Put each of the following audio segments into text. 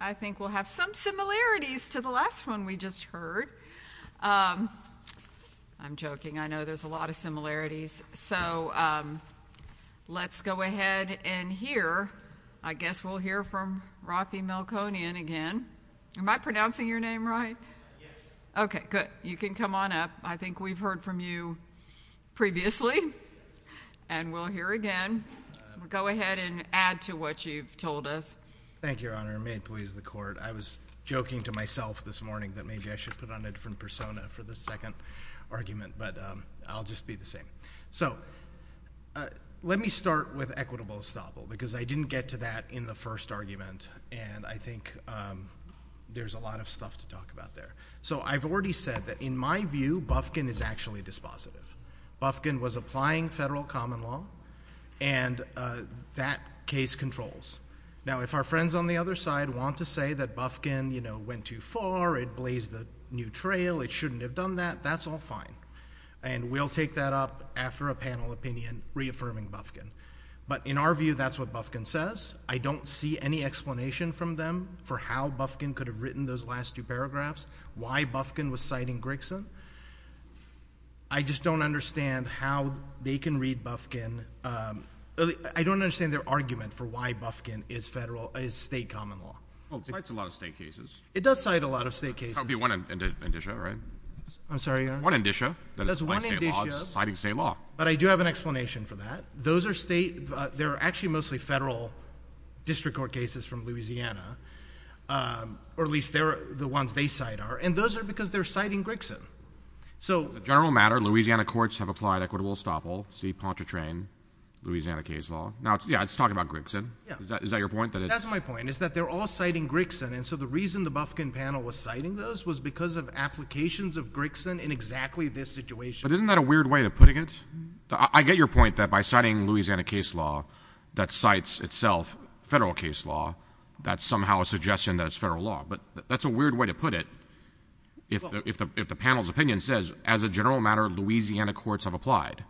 I think we'll have some similarities to the last one we just heard. I'm joking, I know there's a lot of similarities. So let's go ahead and hear, I guess we'll hear from Rafi Melkonian again. Am I pronouncing your name right? Okay, good. You can come on up. I think we've heard from you previously. And we'll hear again. Go ahead and add to what you've your honor. May it please the court. I was joking to myself this morning that maybe I should put on a different persona for this second argument, but I'll just be the same. So let me start with equitable estoppel because I didn't get to that in the first argument and I think there's a lot of stuff to talk about there. So I've already said that in my view, Bufkin is actually dispositive. Bufkin was applying federal common law and that case controls. Now, if our friends on the other side want to say that Bufkin, you know, went too far, it blazed the new trail, it shouldn't have done that, that's all fine. And we'll take that up after a panel opinion reaffirming Bufkin. But in our view, that's what Bufkin says. I don't see any explanation from them for how Bufkin could have written those last two paragraphs, why Bufkin was citing Grixen. I just don't understand how they can read Bufkin. I don't understand their argument for why Bufkin is federal, is state common law. Well, it cites a lot of state cases. It does cite a lot of state cases. That would be one indicia, right? I'm sorry, Your Honor? That's one indicia. That's one indicia. That it's citing state law. It's citing state law. But I do have an explanation for that. Those are state, they're actually mostly federal district court cases from Louisiana, or at least they're the ones they cite are. And those are because they're citing Grixen. As a general matter, Louisiana courts have applied equitable estoppel, see Pontchartrain, Louisiana case law. Now, yeah, it's talking about Grixen. Is that your point? That's my point, is that they're all citing Grixen. And so the reason the Bufkin panel was citing those was because of applications of Grixen in exactly this situation. But isn't that a weird way of putting it? I get your point that by citing Louisiana case law, that cites itself federal case law, that's somehow a suggestion that it's federal case law. But that's a weird way to put it if the panel's opinion says, as a general matter, Louisiana courts have applied.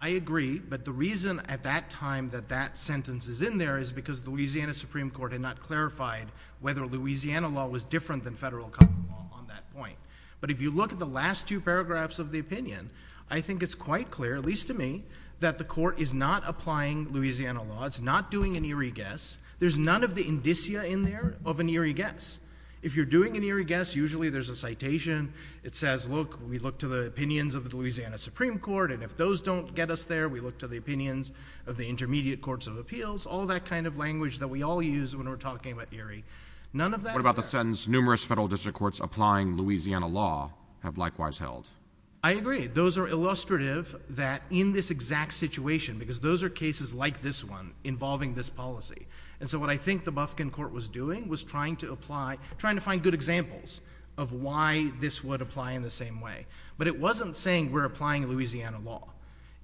I agree. But the reason at that time that that sentence is in there is because Louisiana Supreme Court had not clarified whether Louisiana law was different than federal common law on that point. But if you look at the last two paragraphs of the opinion, I think it's quite clear, at least to me, that the court is not applying Louisiana law. It's not doing an eerie guess. There's none of the indicia in there of an eerie guess. If you're doing an eerie guess, usually there's a citation. It says, look, we look to the opinions of the Louisiana Supreme Court. And if those don't get us there, we look to the opinions of the intermediate courts of appeals, all that kind of language that we all use when we're talking about eerie. None of that. What about the sentence, numerous federal district courts applying Louisiana law have likewise held? I agree. Those are illustrative that in this exact situation, because those are cases like this one involving this policy. And so what I think the Bufkin court was doing was trying to apply, trying to find good examples of why this would apply in the same way. But it wasn't saying we're applying Louisiana law.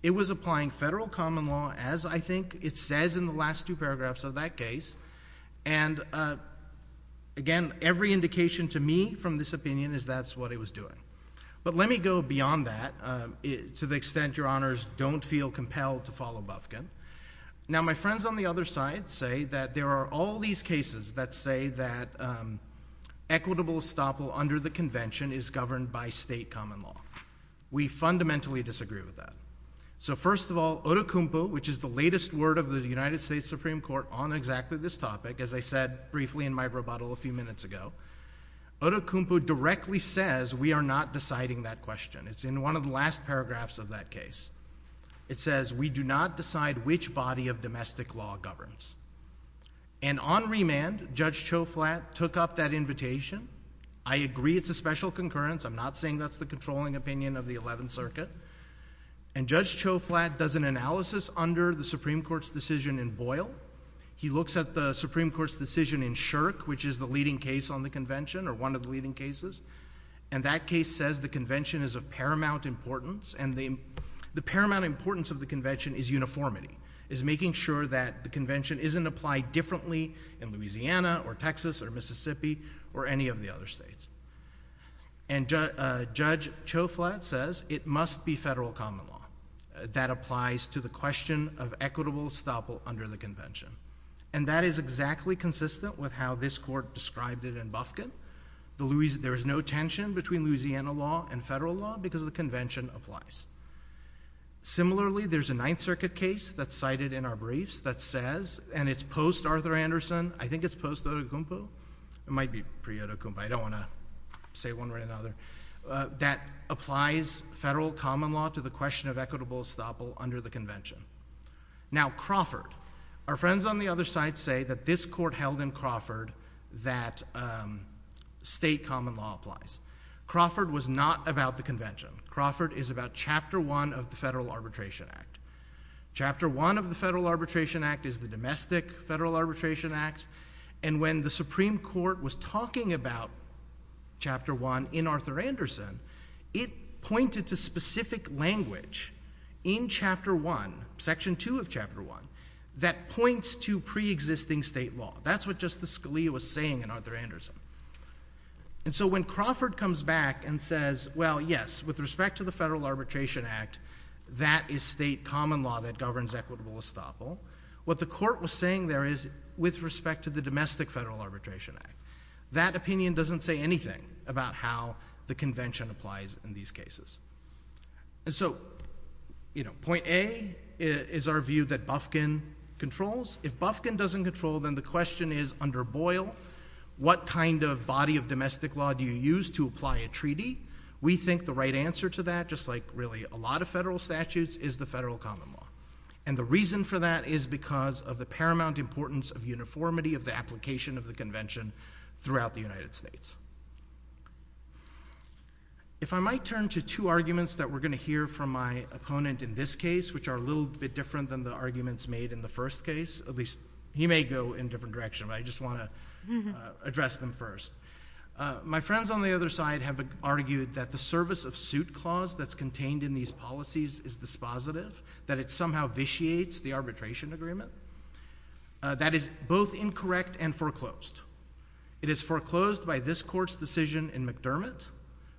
It was applying federal common law as I think it says in the last two paragraphs of that case. And again, every indication to me from this opinion is that's what it was doing. But let me go beyond that to the extent your honors don't feel compelled to follow Bufkin. Now my friends on the other side say that there are all these cases that say that equitable estoppel under the convention is governed by state common law. We fundamentally disagree with that. So first of all, otokumpu, which is the latest word of the United States Supreme Court on exactly this topic, as I said briefly in my rebuttal a few minutes ago, otokumpu directly says we are not deciding that question. It's in one of the last paragraphs of that case. It says we do not decide which body of domestic law governs. And on remand, Judge Choflat took up that invitation. I agree it's a special concurrence. I'm not saying that's the controlling opinion of the 11th Circuit. And Judge Choflat does an analysis under the Supreme Court's decision in Boyle. He looks at the Supreme Court's decision in Shirk, which is the leading case on the convention, or one of the leading cases. And that case says the convention is of paramount importance. And the paramount importance of the convention is uniformity, is making sure that the convention isn't applied differently in Louisiana or Texas or Mississippi or any of the other states. And Judge Choflat says it must be federal common law that applies to the question of equitable estoppel under the convention. And that is exactly consistent with how this court described it in Bufkin. There's no tension between Louisiana law and federal law because the convention applies. Similarly, there's a 9th Circuit case that's cited in our briefs that says, and it's post-Arthur Anderson, I think it's post-otokumpu, it might be pre-otokumpu, I don't want to say one way or another, that applies federal common law to the question of equitable estoppel under the convention. Now Crawford, our friends on the other side say that this court held in Crawford that state common law applies. Crawford was not about the convention. Crawford is about Chapter 1 of the Federal Arbitration Act. Chapter 1 of the Federal Arbitration Act is the domestic Federal Arbitration Act. And when the Supreme Court was talking about Chapter 1 in Arthur Anderson, Crawford was talking about the state language in Chapter 1, Section 2 of Chapter 1, that points to pre-existing state law. That's what just the Scalia was saying in Arthur Anderson. And so when Crawford comes back and says, well, yes, with respect to the Federal Arbitration Act, that is state common law that governs equitable estoppel. What the court was saying there is with respect to the domestic Federal Arbitration Act. That opinion doesn't say anything about how the convention applies in these cases. And so, you know, point A is our view that Bufkin controls. If Bufkin doesn't control, then the question is under Boyle, what kind of body of domestic law do you use to apply a treaty? We think the right answer to that, just like really a lot of federal statutes, is the federal common law. And the reason for that is because of the paramount importance of uniformity of the application of the convention throughout the United States. If I might turn to two arguments that we're going to hear from my opponent in this case, which are a little bit different than the arguments made in the first case, at least he may go in a different direction, but I just want to address them first. My friends on the other side have argued that the service of suit clause that's contained in these policies is dispositive, that it somehow vitiates the arbitration agreement. That is both incorrect and foreclosed. It is foreclosed by this court's decision in McDermott,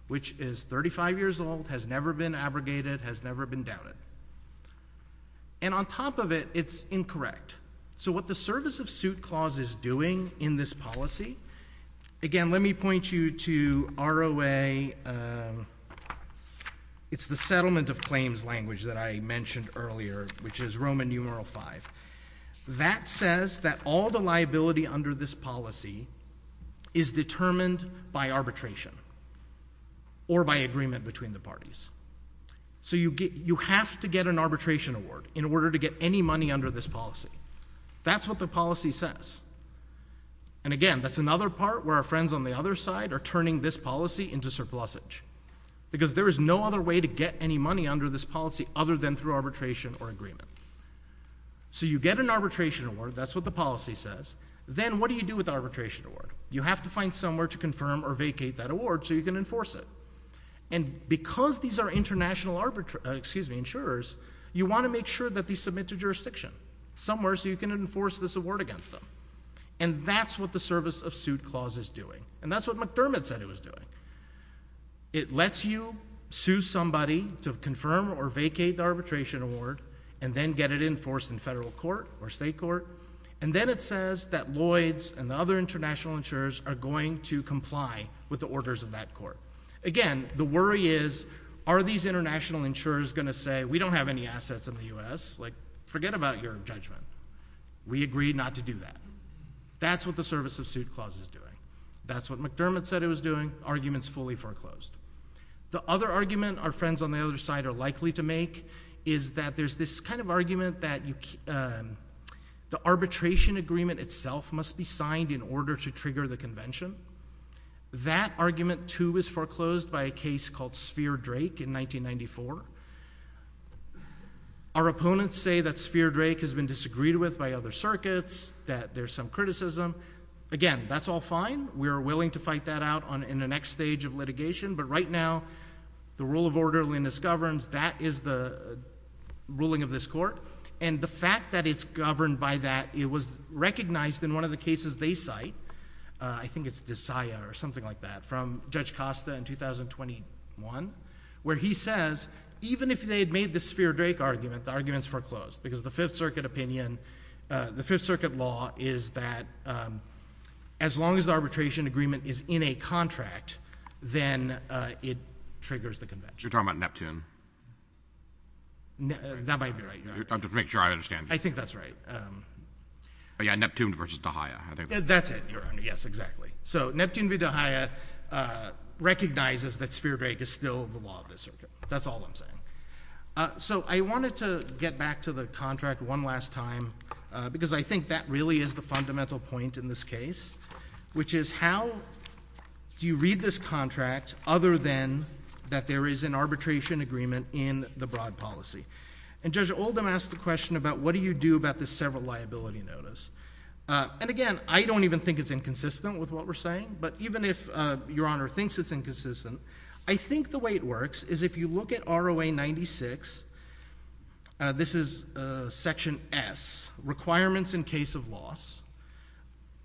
which is 35 years old, has never been abrogated, has never been doubted. And on top of it, it's incorrect. So what the service of suit clause is doing in this policy, again, let me point you to ROA, it's the Settlement of Claims language that I mentioned earlier, which is Roman numeral five. That says that all the liability under this policy is determined by arbitration or by agreement between the parties. So you have to get an arbitration award in order to get any money under this policy. That's what the policy says. And again, that's another part where our friends on the other side are turning this policy into surplusage. Because there is no other way to get any money under this policy other than through arbitration or agreement. So you get an arbitration award, that's what the policy says. Then what do you do with the arbitration award? You have to find somewhere to confirm or vacate that award so you can enforce it. And because these are international insurers, you want to make sure that they submit to jurisdiction somewhere so you can enforce this award against them. And that's what the service of suit clause is doing. And that's what McDermott said it was doing. It lets you sue somebody to confirm or vacate the arbitration award and then get it enforced in federal court or state court. And then it says that Lloyds and the other international insurers are going to comply with the orders of that court. Again, the worry is, are these international insurers going to say, we don't have any assets in the U.S.? Like, forget about your judgment. We agreed not to do that. That's what the service of suit clause is doing. That's what McDermott said it was doing. Argument's fully foreclosed. The other argument our friends on the other side are likely to make is that there's this kind of argument that the arbitration agreement itself must be signed in order to trigger the convention. That argument, too, is foreclosed by a case called Sphere Drake in 1994. Our opponents say that Sphere Drake has been disagreed with by other circuits, that there's some skepticism. Again, that's all fine. We are willing to fight that out in the next stage of litigation. But right now, the rule of orderliness governs. That is the ruling of this court. And the fact that it's governed by that, it was recognized in one of the cases they cite. I think it's Desaia or something like that, from Judge Costa in 2021, where he says, even if they had made the Sphere Drake argument, the argument's foreclosed because the Fifth Circuit opinion, the Fifth Circuit law is that as long as the arbitration agreement is in a contract, then it triggers the convention. You're talking about Neptune? That might be right. Just to make sure I understand. I think that's right. Yeah, Neptune versus Desaia. That's it, Your Honor. Yes, exactly. So Neptune v. Desaia recognizes that Sphere Drake is still the law of this circuit. That's all I'm saying. So I wanted to get back to the contract one last time, because I think that really is the fundamental point in this case, which is how do you read this contract other than that there is an arbitration agreement in the broad policy? And Judge Oldham asked the question about what do you do about this several liability notice? And again, I don't even think it's inconsistent with what we're saying. But even if Your Honor thinks it's inconsistent, I think the way it works is if you look at ROA 96, this is Section S, Requirements in Case of Loss,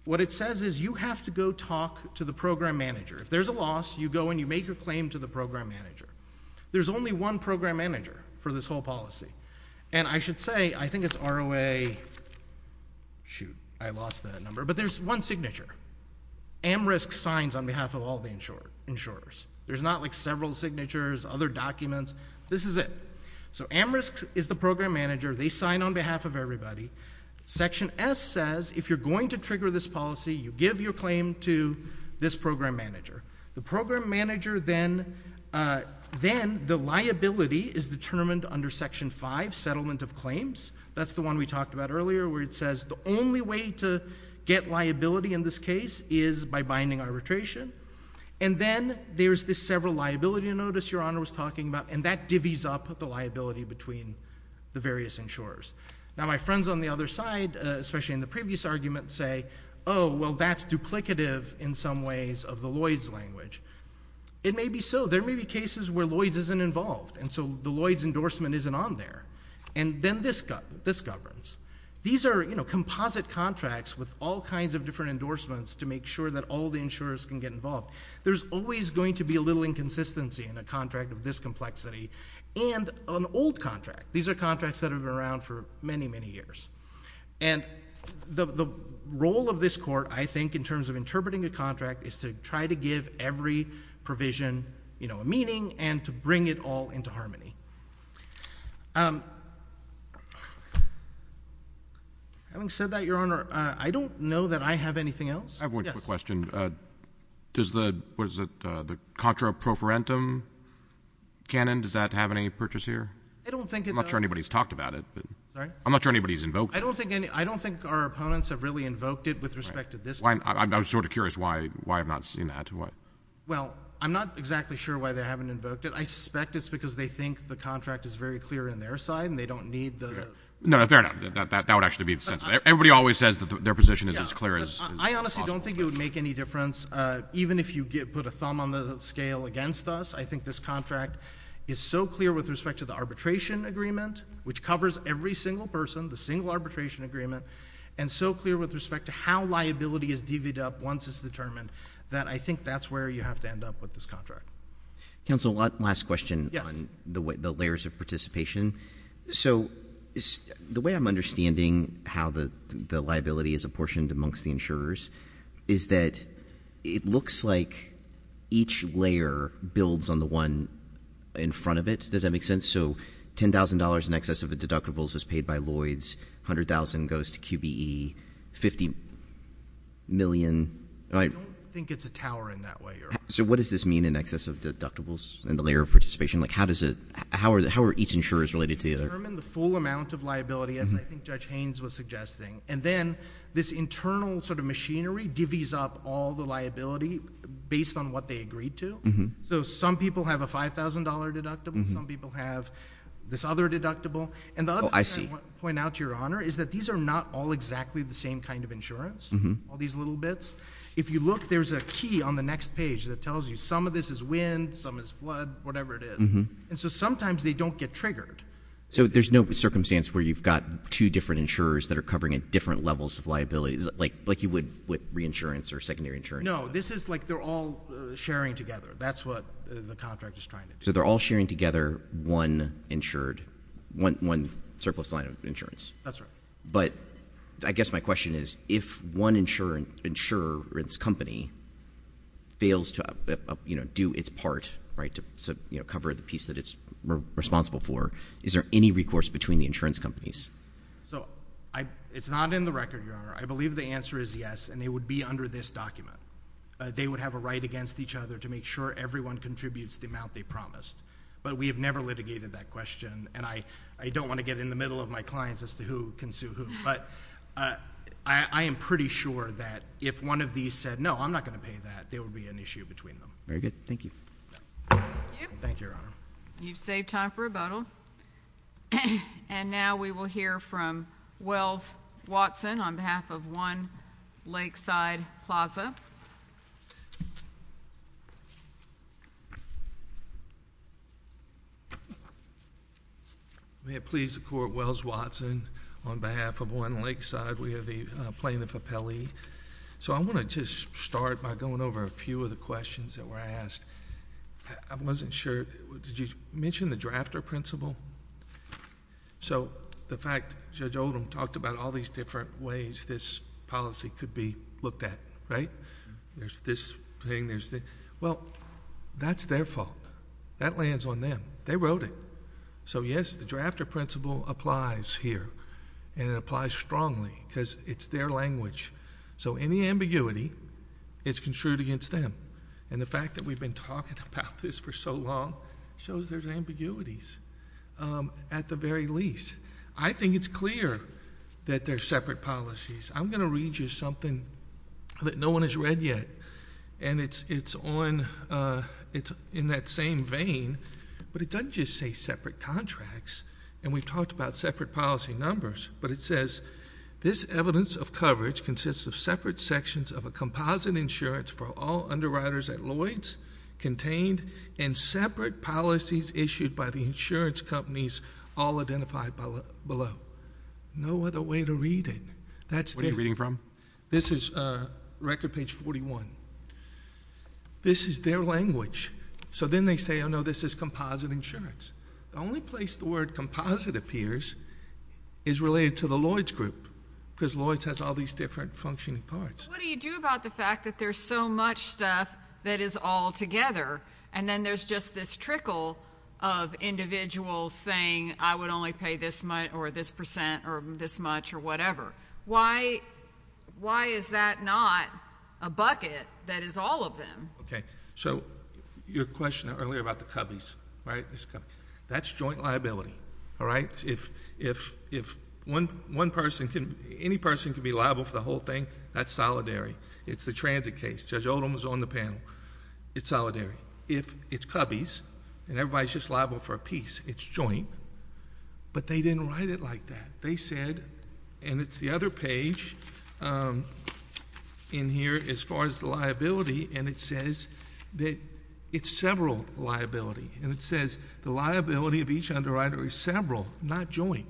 what it says is you have to go talk to the program manager. If there's a loss, you go and you make your claim to the program manager. There's only one program manager for this whole policy. And I should say, I think it's ROA, shoot, I lost that number, but there's one signature. AmRISC signs on behalf of all the insurers. There's not like several signatures, other documents. This is it. So AmRISC is the program manager. They sign on behalf of everybody. Section S says if you're going to trigger this policy, you give your claim to this program manager. The program manager then, then the liability is determined under Section 5, Settlement of Claims. That's the one we talked about earlier, where it says the only way to get liability in this case is by binding arbitration. And then there's this several liability notice Your Honor was talking about, and that divvies up the liability between the various insurers. Now, my friends on the other side, especially in the previous argument, say, oh, well, that's duplicative in some ways of the Lloyds language. It may be so. There may be cases where Lloyds isn't involved, and so the Lloyds endorsement isn't on there. And then this governs. These are composite contracts with all kinds of different endorsements to make sure that all the insurers can get involved. There's always going to be a little inconsistency in a contract of this complexity, and an old contract. These are contracts that have been around for many, many years. And the role of this court, I think, in terms of interpreting a contract is to try to give every provision a meaning and to bring it all into harmony. Having said that, Your Honor, I don't know that I have anything else. I have one quick question. Does the, what is it, the contra pro forentum canon, does that have any purchase here? I don't think it does. I'm not sure anybody's talked about it. Sorry? I'm not sure anybody's invoked it. I don't think any, I don't think our opponents have really invoked it with respect to this I'm sort of curious why I've not seen that. Well, I'm not exactly sure why they haven't invoked it. I suspect it's because they think the contract is very clear in their side and they don't need the No, fair enough. That would actually be the sense. Everybody always says that their position is as clear as I honestly don't think it would make any difference. Even if you get, put a thumb on the scale against us, I think this contract is so clear with respect to the arbitration agreement, which covers every single person, the single arbitration agreement, and so clear with respect to how liability is divvied up once it's determined that I think that's where you have to end up with this contract. Counsel, one last question on the layers of participation. So the way I'm understanding how the liability is apportioned amongst the insurers is that it looks like each layer builds on the one in front of it. Does that make sense? So $10,000 in excess of the deductibles is paid by Lloyd's, $100,000 goes to QBE, $50 million? I don't think it's a tower in that way. So what does this mean in excess of deductibles and the layer of participation? How are each insurers related to the other? To determine the full amount of liability, as I think Judge Haynes was suggesting, and then this internal machinery divvies up all the liability based on what they agreed to. So some people have a $5,000 deductible. Some people have this other deductible. And the other thing I want to point out, Your Honor, is that these are not all exactly the same kind of insurance, all these little bits. If you look, there's a key on the next page that tells you some of this is wind, some is flood, whatever it is. And so sometimes they don't get triggered. So there's no circumstance where you've got two different insurers that are covering different levels of liabilities, like you would with reinsurance or secondary insurance? No, this is like they're all sharing together. That's what the contract is trying to do. So they're all sharing together one insured, one surplus line of insurance? That's right. But I guess my question is, if one insurance company fails to do its part, right, to cover the piece that it's responsible for, is there any recourse between the insurance companies? So it's not in the record, Your Honor. I believe the answer is yes, and it would be under this document. They would have a right against each other to make sure everyone contributes the amount they promised. But we have never litigated that question, and I don't want to get in the middle of my clients as to who can sue who. But I am pretty sure that if one of these said, no, I'm not going to pay that, there would be an issue between them. Very good. Thank you. Thank you, Your Honor. You've saved time for rebuttal. And now we will hear from Wells Watson on behalf of One Lakeside Plaza. May it please the Court, Wells Watson on behalf of One Lakeside. We are the plaintiff of Pele. So I want to just start by going over a few of the questions that were asked. I wasn't sure, did you mention the drafter principle? So the fact Judge Oldham talked about all these different ways this policy could be looked at, right? There's this thing, there's that. Well, that's their fault. That lands on them. They wrote it. So yes, the drafter principle applies here, and it applies strongly, because it's their language. So any ambiguity is construed against them. And the fact that we've been talking about this for so long shows there's ambiguities, at the very least. I think it's clear that they're separate policies. I'm going to read you something that no one has read yet, and it's on, it's in that same vein, but it doesn't just say separate contracts. And we've talked about separate policy numbers, but it says, this evidence of coverage consists of separate sections of a composite insurance for all underwriters at Lloyd's, contained, and separate policies issued by the insurance companies all identified below. No other way to read it. That's them. What are you reading from? This is record page 41. This is their language. So then they say, oh no, this is composite insurance. The only place the word composite appears is related to the Lloyd's group, because Lloyd's has all these different functioning parts. What do you do about the fact that there's so much stuff that is all together, and then there's just this trickle of individuals saying, I would only pay this much, or this percent, or this much, or whatever? Why is that not a bucket that is all of them? So your question earlier about the cubbies, right? That's joint liability. If one person, any person can be liable for the whole thing, that's solidary. It's the transit case. Judge Oldham was on the panel. It's solidary. If it's cubbies, and everybody's just liable for a piece, it's joint. But they didn't write it like that. They said, and it's the other page in here as far as the liability, and it says that it's several liability. And it says that it's the other page.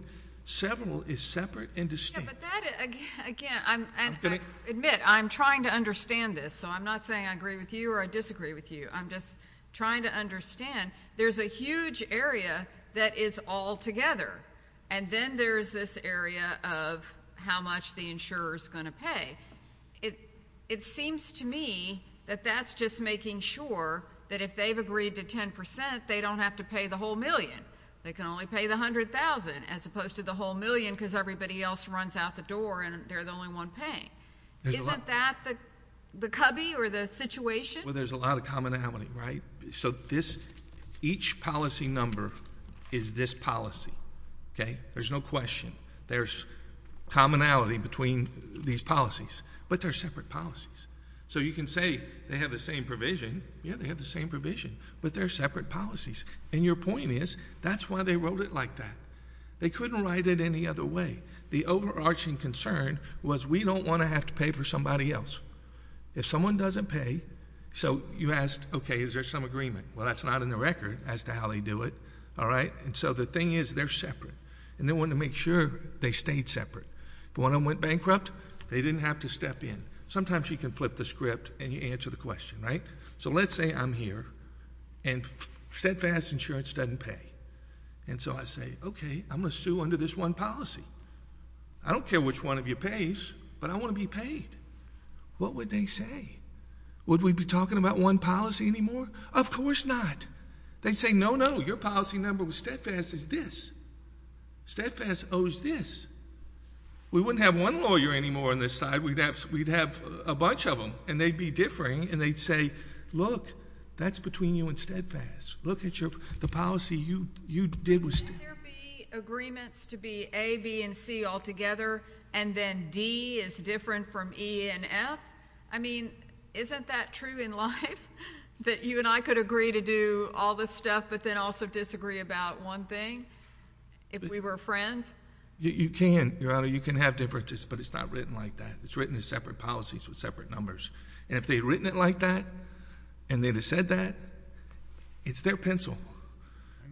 But that, again, I'm going to admit, I'm trying to understand this. So I'm not saying I agree with you or I disagree with you. I'm just trying to understand. There's a huge area that is all together, and then there's this area of how much the insurer's going to pay. It seems to me that that's just making sure that if they've agreed to 10 percent, they don't have to pay the whole million. They can only pay the $100,000, as opposed to the $100,000 out the door, and they're the only one paying. Isn't that the cubby or the situation? Well, there's a lot of commonality, right? So each policy number is this policy, okay? There's no question. There's commonality between these policies, but they're separate policies. So you can say they have the same provision. Yeah, they have the same provision, but they're separate policies. And your point is, that's why they wrote it like that. They couldn't write it any other way. The overarching concern was, we don't want to have to pay for somebody else. If someone doesn't pay, so you asked, okay, is there some agreement? Well, that's not in the record as to how they do it, all right? And so the thing is, they're separate, and they want to make sure they stayed separate. When I went bankrupt, they didn't have to step in. Sometimes you can flip the script and you answer the question, right? So let's say I'm here, and steadfast insurance doesn't pay. And so I say, okay, I'm going to sue under this one policy. I don't care which one of you pays, but I want to be paid. What would they say? Would we be talking about one policy anymore? Of course not. They'd say, no, no, your policy number with steadfast is this. Steadfast owes this. We wouldn't have one lawyer anymore on this side. We'd have a bunch of them, and they'd be differing, and they'd say, look, that's between you and steadfast. Look at the policy you did with Would there be agreements to be A, B, and C all together, and then D is different from E and F? I mean, isn't that true in life, that you and I could agree to do all this stuff, but then also disagree about one thing, if we were friends? You can, Your Honor. You can have differences, but it's not written like that. It's written as separate policies with separate numbers. And if they had written it like that, and they'd have said that, it's their pencil.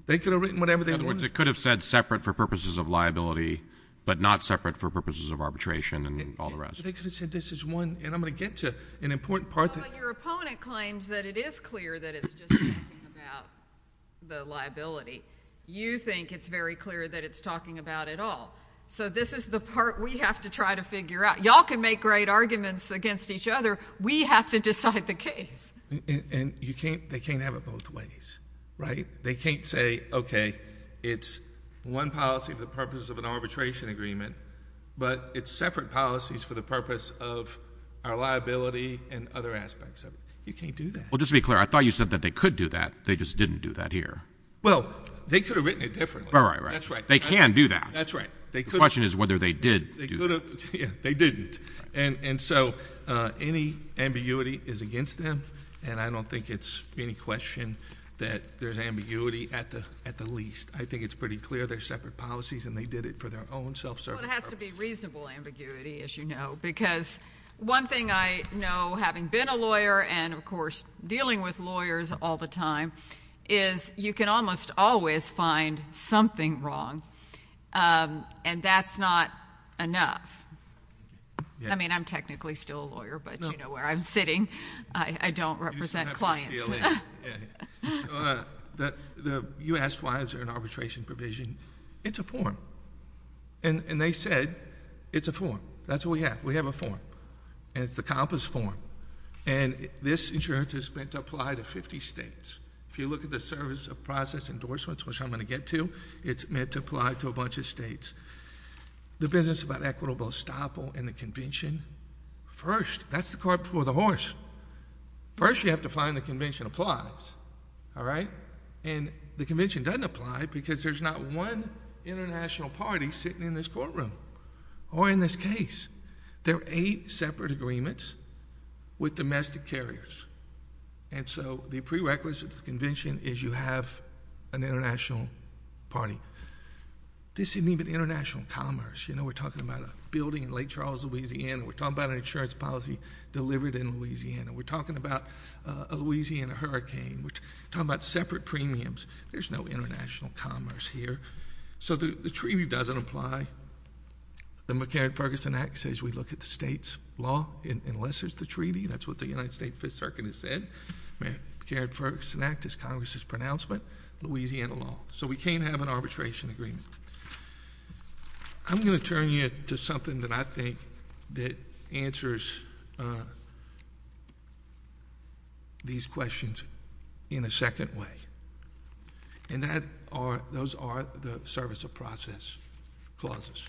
They could have written whatever they wanted. In other words, it could have said separate for purposes of liability, but not separate for purposes of arbitration and all the rest. But they could have said this is one, and I'm going to get to an important part that Well, but your opponent claims that it is clear that it's just talking about the liability. You think it's very clear that it's talking about it all. So this is the part we have to try to figure out. Y'all can make great arguments against each other. We have to decide the case. And you can't, they can't have it both ways, right? They can't say, okay, it's one policy for the purpose of an arbitration agreement, but it's separate policies for the purpose of our liability and other aspects of it. You can't do that. Well, just to be clear, I thought you said that they could do that. They just didn't do that here. Well, they could have written it differently. All right, right. That's right. They can do that. That's right. The question is whether they did do that. They didn't. And so any ambiguity is against them, and I don't think it's any question that there's ambiguity at the least. I think it's pretty clear they're separate policies and they did it for their own self-serving purposes. Well, it has to be reasonable ambiguity, as you know, because one thing I know, having been a lawyer and, of course, dealing with lawyers all the time, is you can almost always find something wrong, and that's not enough. I mean, I'm technically still a lawyer, but you know where I'm sitting. I don't represent clients. You asked why is there an arbitration provision. It's a form, and they said it's a form. That's what we have. We have a form, and it's the COMPAS form, and this insurance is meant to apply to all 50 states. If you look at the service of process endorsements, which I'm going to get to, it's meant to apply to a bunch of states. The business about equitable estoppel and the convention, first, that's the cart before the horse. First, you have to find the convention applies, all right? And the convention doesn't apply because there's not one international party sitting in this courtroom or in this case. There are eight separate agreements with domestic carriers, and so the prerequisite of the convention is you have an international party. This isn't even international commerce. You know, we're talking about a building in Lake Charles, Louisiana. We're talking about an insurance policy delivered in Louisiana. We're talking about a Louisiana hurricane. We're talking about separate premiums. There's no international commerce here, so the treaty doesn't apply. The McCarran-Ferguson Act says we look at the state's law, enlists the treaty. That's what the United States Fifth Circuit has said. McCarran-Ferguson Act is Congress's pronouncement, Louisiana law, so we can't have an arbitration agreement. I'm going to turn you to something that I think that answers these questions in a second way, and those are the service of process clauses,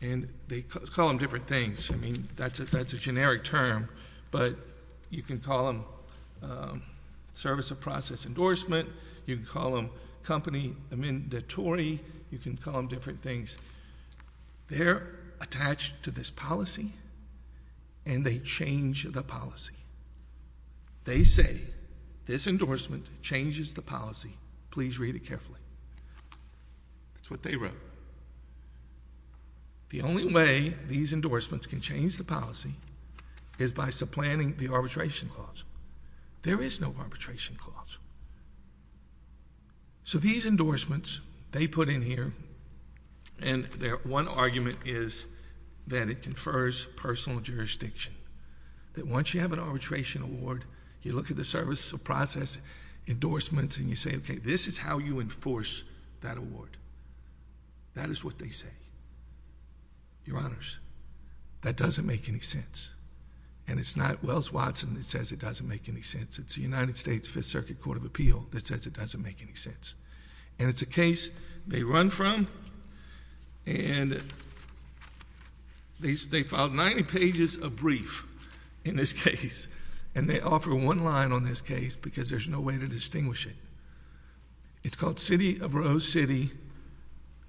and they call them different things. I mean, that's a generic term, but you can call them service of process endorsement. You can call them company mandatory. You can call them different things. They're attached to this policy, and they change the policy. They say, this endorsement changes the policy. Please read it carefully. That's what they wrote. The only way these endorsements can change the policy is by supplanting the arbitration clause. There is no arbitration clause. These endorsements, they put in here, and their one argument is that it confers personal jurisdiction, that once you have an arbitration award, you look at the service of process endorsements, and you say, okay, this is how you enforce that award. That is what they say. Your honors, that doesn't make any sense, and it's not Wells Watson that says it doesn't make any sense. It's the United States Fifth Circuit Court of Appeal that says it doesn't make any sense, and it's a case they run from, and they filed 90 pages of brief in this case, and they offer one line on this case because there's no way to distinguish it. It's called City of Rose City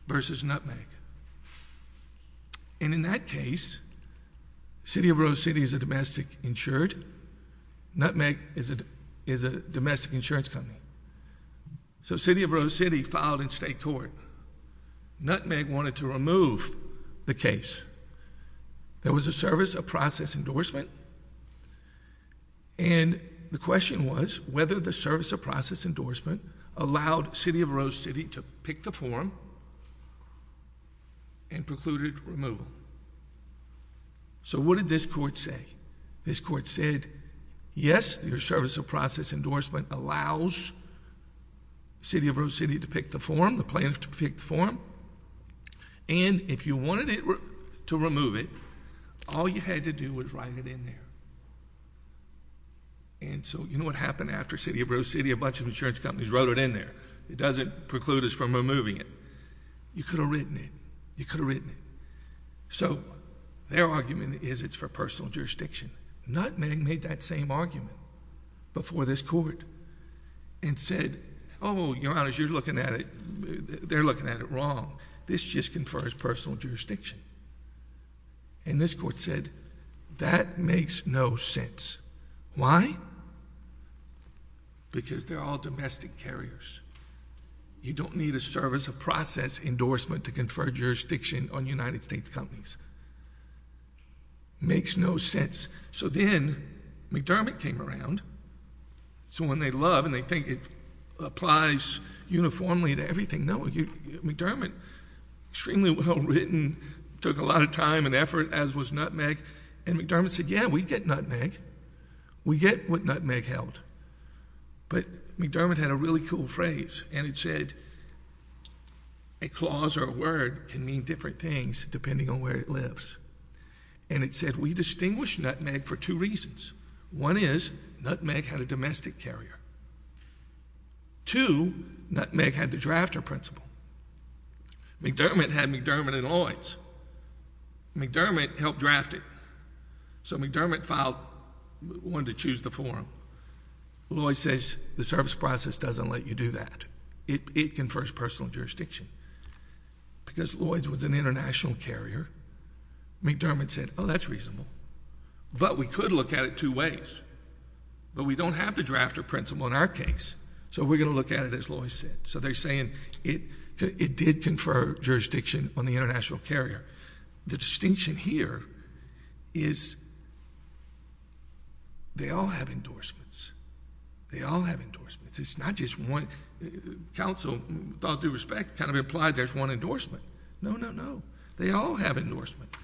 versus Nutmeg, and in that case, City of Rose City is a domestic insured. Nutmeg is a domestic insurance company, so City of Rose City filed in state court. Nutmeg wanted to remove the case. There was a service of process endorsement, and the question was whether the service of process endorsement allowed City of Rose City to pick the form and precluded removal, so what did this court say? This court said, yes, your service of process endorsement allows City of Rose City to pick the form, the plaintiff to pick the form, and if you wanted to remove it, all you had to do was write it in there, and so you know what happened after City of Rose City, a bunch of insurance companies wrote in there. It doesn't preclude us from removing it. You could have written it. You could have written it, so their argument is it's for personal jurisdiction. Nutmeg made that same argument before this court and said, oh, your Honor, you're looking at it... they're looking at it wrong. This just confers personal jurisdiction, and this court said that makes no sense. Why? Because they're all domestic carriers. You don't need a service of process endorsement to confer jurisdiction on United States companies. Makes no sense, so then McDermott came around, so when they love and they think it applies uniformly to everything, no, McDermott, extremely well written, took a lot of time and effort, as was Nutmeg, and McDermott said, yeah, we get Nutmeg. We get what Nutmeg held, but McDermott had a really cool phrase, and it said a clause or a word can mean different things depending on where it lives, and it said we distinguish Nutmeg for two reasons. One is Nutmeg had a domestic carrier. Two, Nutmeg had the drafter principle. McDermott had McDermott and Lloyd's. McDermott helped draft it, so McDermott wanted to choose the forum. Lloyd's says the service process doesn't let you do that. It confers personal jurisdiction. Because Lloyd's was an international carrier, McDermott said, oh, that's reasonable, but we could look at it two ways, but we don't have the drafter principle in our case, so we're going to look at it as Lloyd's said, so they're saying it did confer jurisdiction on the international carrier. The distinction here is they all have endorsements. They all have endorsements. It's not just one. Counsel, with all due respect, kind of implied there's one endorsement. No, no, no. They all have endorsements.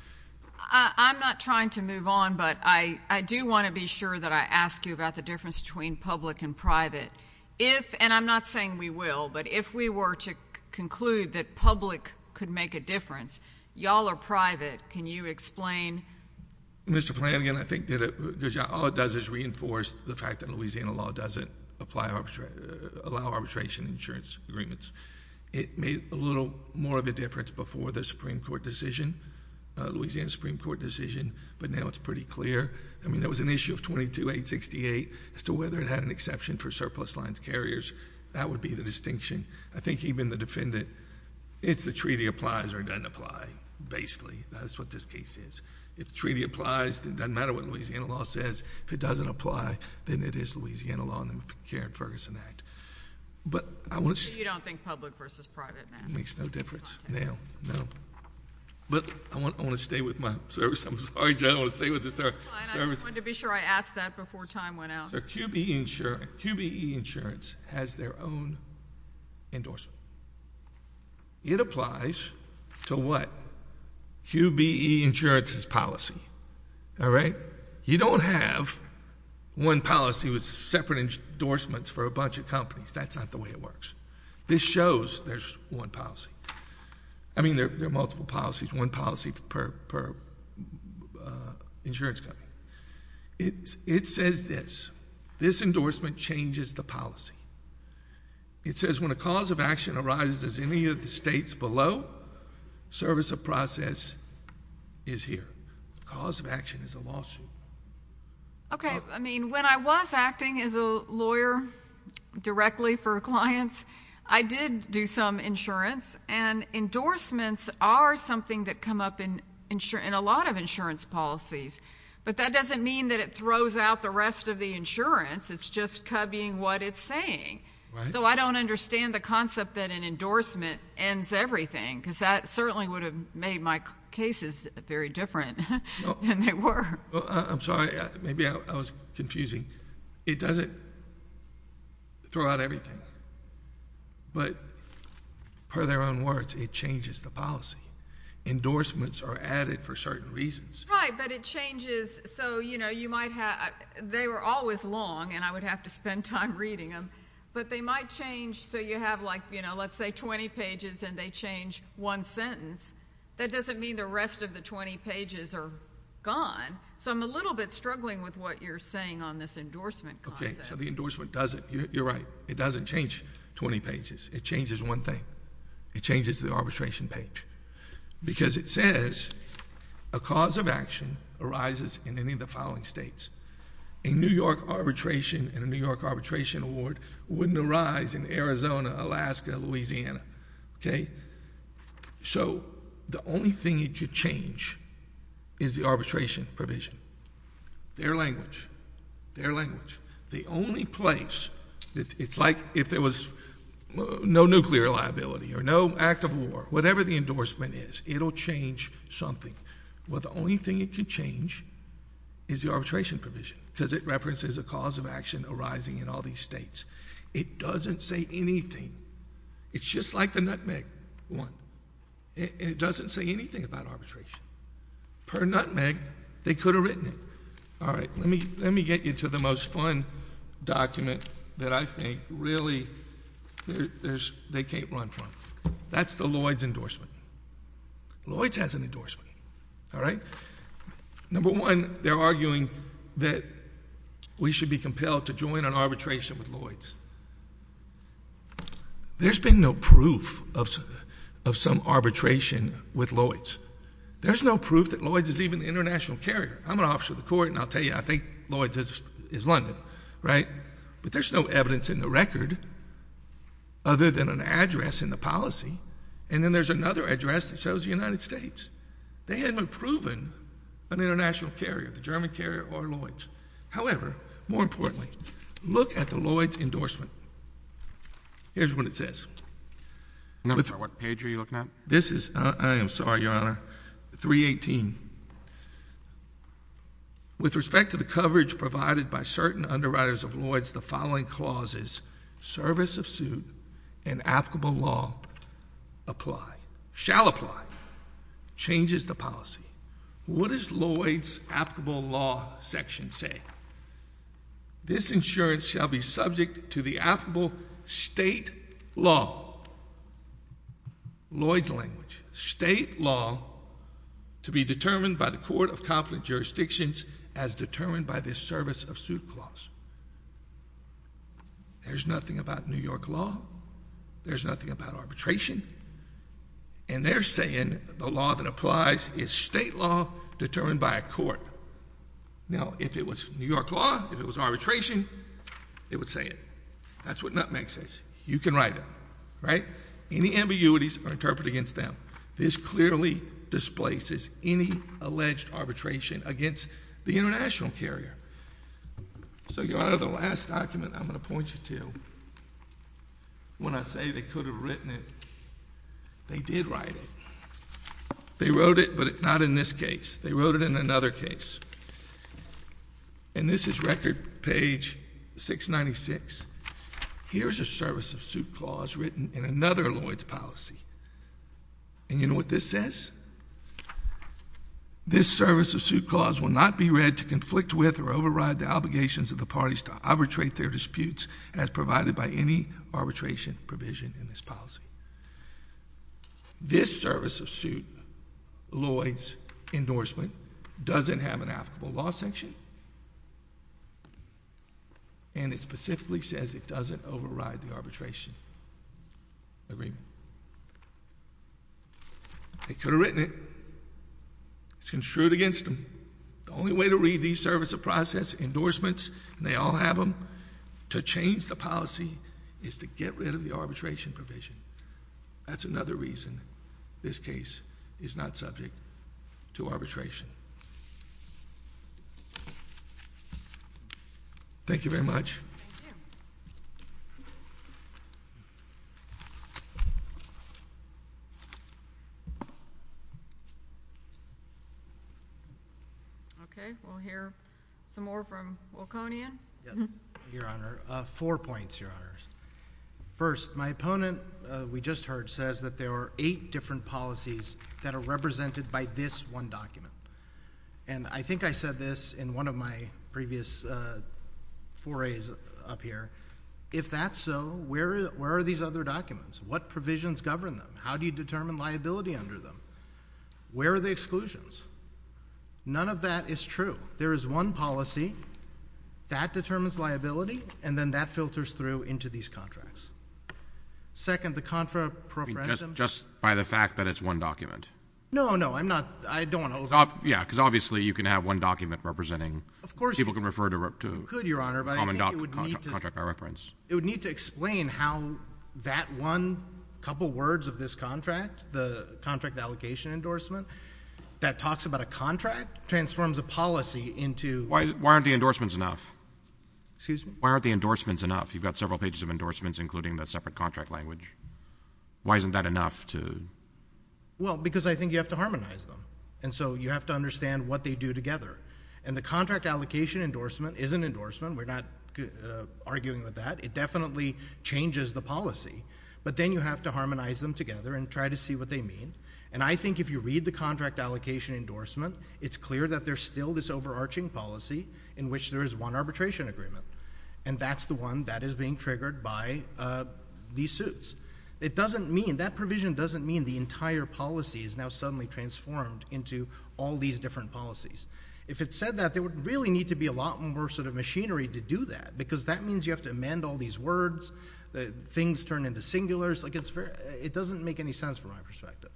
I'm not trying to move on, but I do want to be sure that I ask you about the difference between public and private. If, and I'm not saying we will, but if we were to conclude that public could make a difference, y'all are private. Can you explain? Mr. Flanagan, I think all it does is reinforce the fact that Louisiana law doesn't allow arbitration insurance agreements. It made a little more of a difference before the Supreme Court decision, Louisiana Supreme Court decision, but now it's pretty clear. I mean, there was an issue of 22868 as to whether it had an exception for surplus lines carriers. That would be the distinction. I think even the defendant, it's the treaty applies or doesn't apply, basically. That's what this case is. If the treaty applies, it doesn't matter what Louisiana law says. If it doesn't apply, then it is Louisiana law under the McCarran-Ferguson Act. But I want to... You don't think public versus private, then? Makes no difference now, no. But I want to stay with my service. I'm sorry, I don't want to stay with the service. I just wanted to be sure I asked that before time went out. QBE insurance has their own endorsement. It applies to what? QBE insurance's policy. You don't have one policy with separate endorsements for a bunch of companies. That's not the way it works. This shows there's one policy. I mean, there are multiple policies, one policy per insurance company. It says this. This endorsement changes the policy. It says when a cause of action arises in any of the states below, service of process is here. Cause of action is a lawsuit. Okay. I mean, when I was acting as a lawyer directly for clients, I did do some insurance, and endorsements are something that come up in a lot of insurance policies. But that doesn't mean that it throws out the rest of the insurance. It's just cubbying what it's saying. So I don't understand the concept that an endorsement ends everything, because that certainly would have made my cases very different than they were. I'm sorry. Maybe I was confusing. It doesn't throw out everything. But per their own words, it changes the policy. Endorsements are added for certain reasons. Right. But it changes. So, you know, you might have they were always long, and I would have to spend time reading them. But they might change. So you have like, you know, let's say 20 pages, and they change one sentence. That doesn't mean the rest of the 20 pages are gone. So I'm a little bit struggling with what you're saying on this endorsement concept. Okay. So the endorsement doesn't. You're right. It doesn't change 20 pages. It changes one thing. It changes the arbitration page. Because it says a cause of action arises in any of the following states. A New York arbitration and a New York arbitration award wouldn't arise in Arizona, Alaska, Louisiana. Okay. So the only thing it could change is the arbitration provision. Their language. Their language. The only place, it's like if there was no nuclear liability or no act of war, whatever the endorsement is, it will change something. But the only thing it could change is the arbitration provision. Because it references a cause of action arising in all these states. It doesn't say anything. It's just like the nutmeg one. It doesn't say anything about arbitration. Per nutmeg, they could have written it. All right. Let me get you to the most fun document that I think really they can't run from. That's the Lloyd's endorsement. Lloyd's has an endorsement. All right. Number one, they're arguing that we should be compelled to join an arbitration with Lloyd's. There's been no proof of some arbitration with Lloyd's. There's no proof that Lloyd's is even an international carrier. I'm an officer of the court, and I'll tell you, I think Lloyd's is London, right? But there's no evidence in the record other than an address in the policy. And then there's another address that shows the United States. They haven't proven an international carrier, the German carrier or Lloyd's. However, more importantly, look at the Lloyd's endorsement. Here's what it says. I'm not sure what page are you looking at? This is, I am sorry, Your Honor, 318. With respect to the coverage provided by certain underwriters of Lloyd's, the following clauses, service of suit and applicable law apply, shall apply, changes the policy. What does Lloyd's law section say? This insurance shall be subject to the applicable state law, Lloyd's language, state law to be determined by the court of competent jurisdictions as determined by this service of suit clause. There's nothing about New York law. There's nothing about arbitration. And they're saying the law that applies is state law determined by a court. Now, if it was New York law, if it was arbitration, it would say it. That's what Nutmeg says. You can write it, right? Any ambiguities are interpreted against them. This clearly displaces any alleged arbitration against the international carrier. So, Your Honor, the last document I'm going to point you to, when I say they could have written it, they did write it. They wrote it, but not in this case. They wrote it in another case. And this is record page 696. Here's a service of suit clause written in another Lloyd's policy. And you know what this says? This service of suit clause will not be read to conflict with or override the obligations of the parties to arbitrate their disputes as provided by any arbitration provision in this policy. This service of suit, Lloyd's endorsement, doesn't have an applicable law sanction. And it specifically says it doesn't override the arbitration agreement. They could have written it. It's construed against them. The only way to read these process endorsements, and they all have them, to change the policy is to get rid of the arbitration provision. That's another reason this case is not subject to arbitration. Thank you very much. Thank you. Okay. We'll hear some more from Wilconian. Yes, Your Honor. Four points, Your Honors. First, my opponent, we just heard, says that there are eight different policies that are represented by this one document. And I think I said this in one of my previous forays up here. If that's so, where are these other documents? What provisions govern them? How do you determine liability under them? Where are the exclusions? None of that is true. There is one policy that determines liability, and then that filters through into these contracts. Second, the contra preferential— Just by the fact that it's one document. No, no. I'm not—I don't want to— Yeah, because obviously you can have one document representing— Of course you could, Your Honor, but I think it would need to— Common contract by reference. It would need to explain how that one couple words of this contract, the contract allocation endorsement, that talks about a contract, transforms a policy into— Why aren't the endorsements enough? Excuse me? Why aren't the endorsements enough? You've got several pages of endorsements, including the separate contract language. Why isn't that enough to— Well, because I think you have to harmonize them, and so you have to understand what they do together, and the contract allocation endorsement is an endorsement. We're not arguing with that. It definitely changes the policy, but then you have to harmonize them together and try to see what they mean, and I think if you read the contract allocation endorsement, it's clear that there's still this overarching policy in which there is one arbitration agreement, and that's the one that is being triggered by these suits. It doesn't mean—that provision doesn't mean the entire policy is now suddenly transformed into all these different policies. If it said that, there would really need to be a lot more machinery to do that, because that means you have to amend all these words, things turn into singulars. It doesn't make any sense, from my perspective,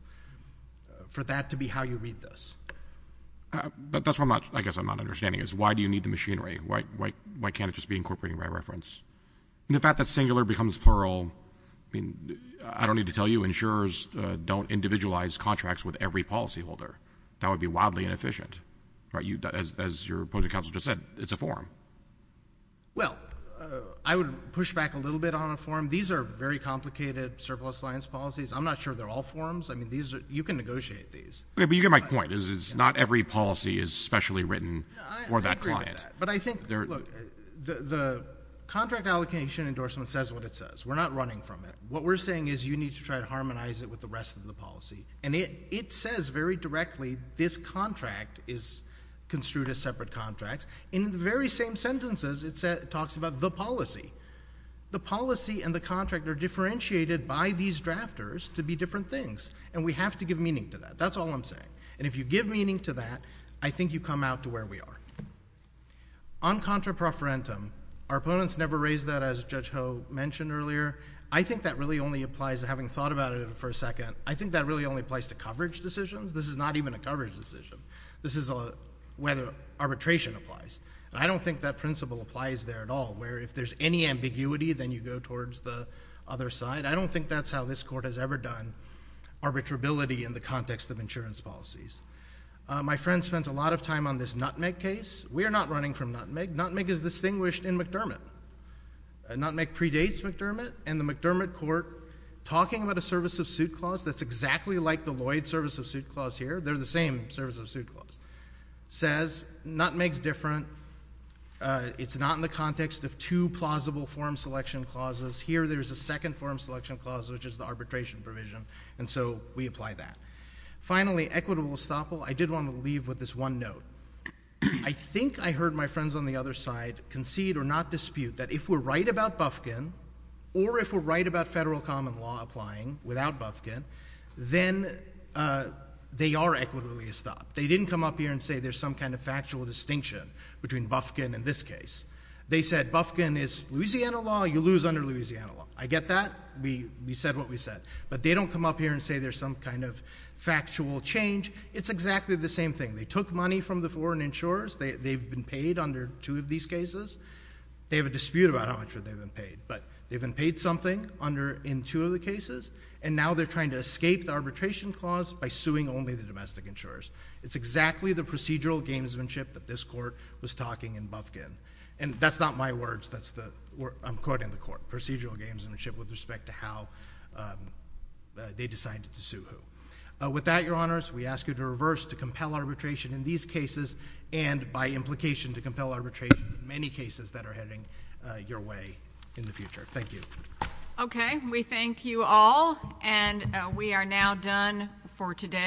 for that to be how you read this. But that's what I guess I'm not understanding is why do you need the machinery? Why can't it just be incorporated by reference? And the fact that singular becomes plural, I mean, insurers don't individualize contracts with every policyholder. That would be wildly inefficient. As your opposing counsel just said, it's a form. Well, I would push back a little bit on a form. These are very complicated surplus alliance policies. I'm not sure they're all forms. I mean, you can negotiate these. But you get my point. It's not every policy is specially written for that client. But I think, look, the contract allocation endorsement says what it says. We're not running from it. What we're saying is you need to try to harmonize it with the rest of the policy. And it says very directly, this contract is construed as separate contracts. In the very same sentences, it talks about the policy. The policy and the contract are differentiated by these drafters to be different things. And we have to give meaning to that. That's all I'm saying. And if you give meaning to that, I think you come out to where we are. On contra profferentum, our opponents never raised that, as Judge Ho mentioned earlier. I think that really only applies, having thought about it for a second, I think that really only applies to coverage decisions. This is not even a coverage decision. This is whether arbitration applies. And I don't think that principle applies there at all, where if there's any ambiguity, then you go towards the other side. I don't think that's how this court has ever done arbitrability in the context of insurance policies. My friend spent a lot of time on this Nutmeg case. We are not running from Nutmeg. Nutmeg is distinguished in McDermott. Nutmeg predates McDermott. And the McDermott court, talking about a service of suit clause that's exactly like the Lloyd service of suit clause here, they're the same service of suit clause, says Nutmeg's different. It's not in the context of two plausible form selection clauses. Here, there's a second form selection clause, which is the leave with this one note. I think I heard my friends on the other side concede or not dispute that if we're right about Bufkin, or if we're right about federal common law applying without Bufkin, then they are equitably estopped. They didn't come up here and say there's some kind of factual distinction between Bufkin and this case. They said Bufkin is Louisiana law. You lose under Louisiana law. I get that. We said what we said. But they don't come up here and say there's some kind of factual change. It's exactly the same thing. They took money from the foreign insurers. They've been paid under two of these cases. They have a dispute about how much they've been paid. But they've been paid something in two of the cases. And now they're trying to escape the arbitration clause by suing only the domestic insurers. It's exactly the procedural gamesmanship that this court was talking in Bufkin. And that's not my words. I'm quoting the court. Procedural gamesmanship with respect to how they decided to sue who. With that, Your Honors, we ask you to reverse to compel arbitration in these cases and by implication to compel arbitration in many cases that are heading your way in the future. Thank you. Okay. We thank you all. And we are now done for today.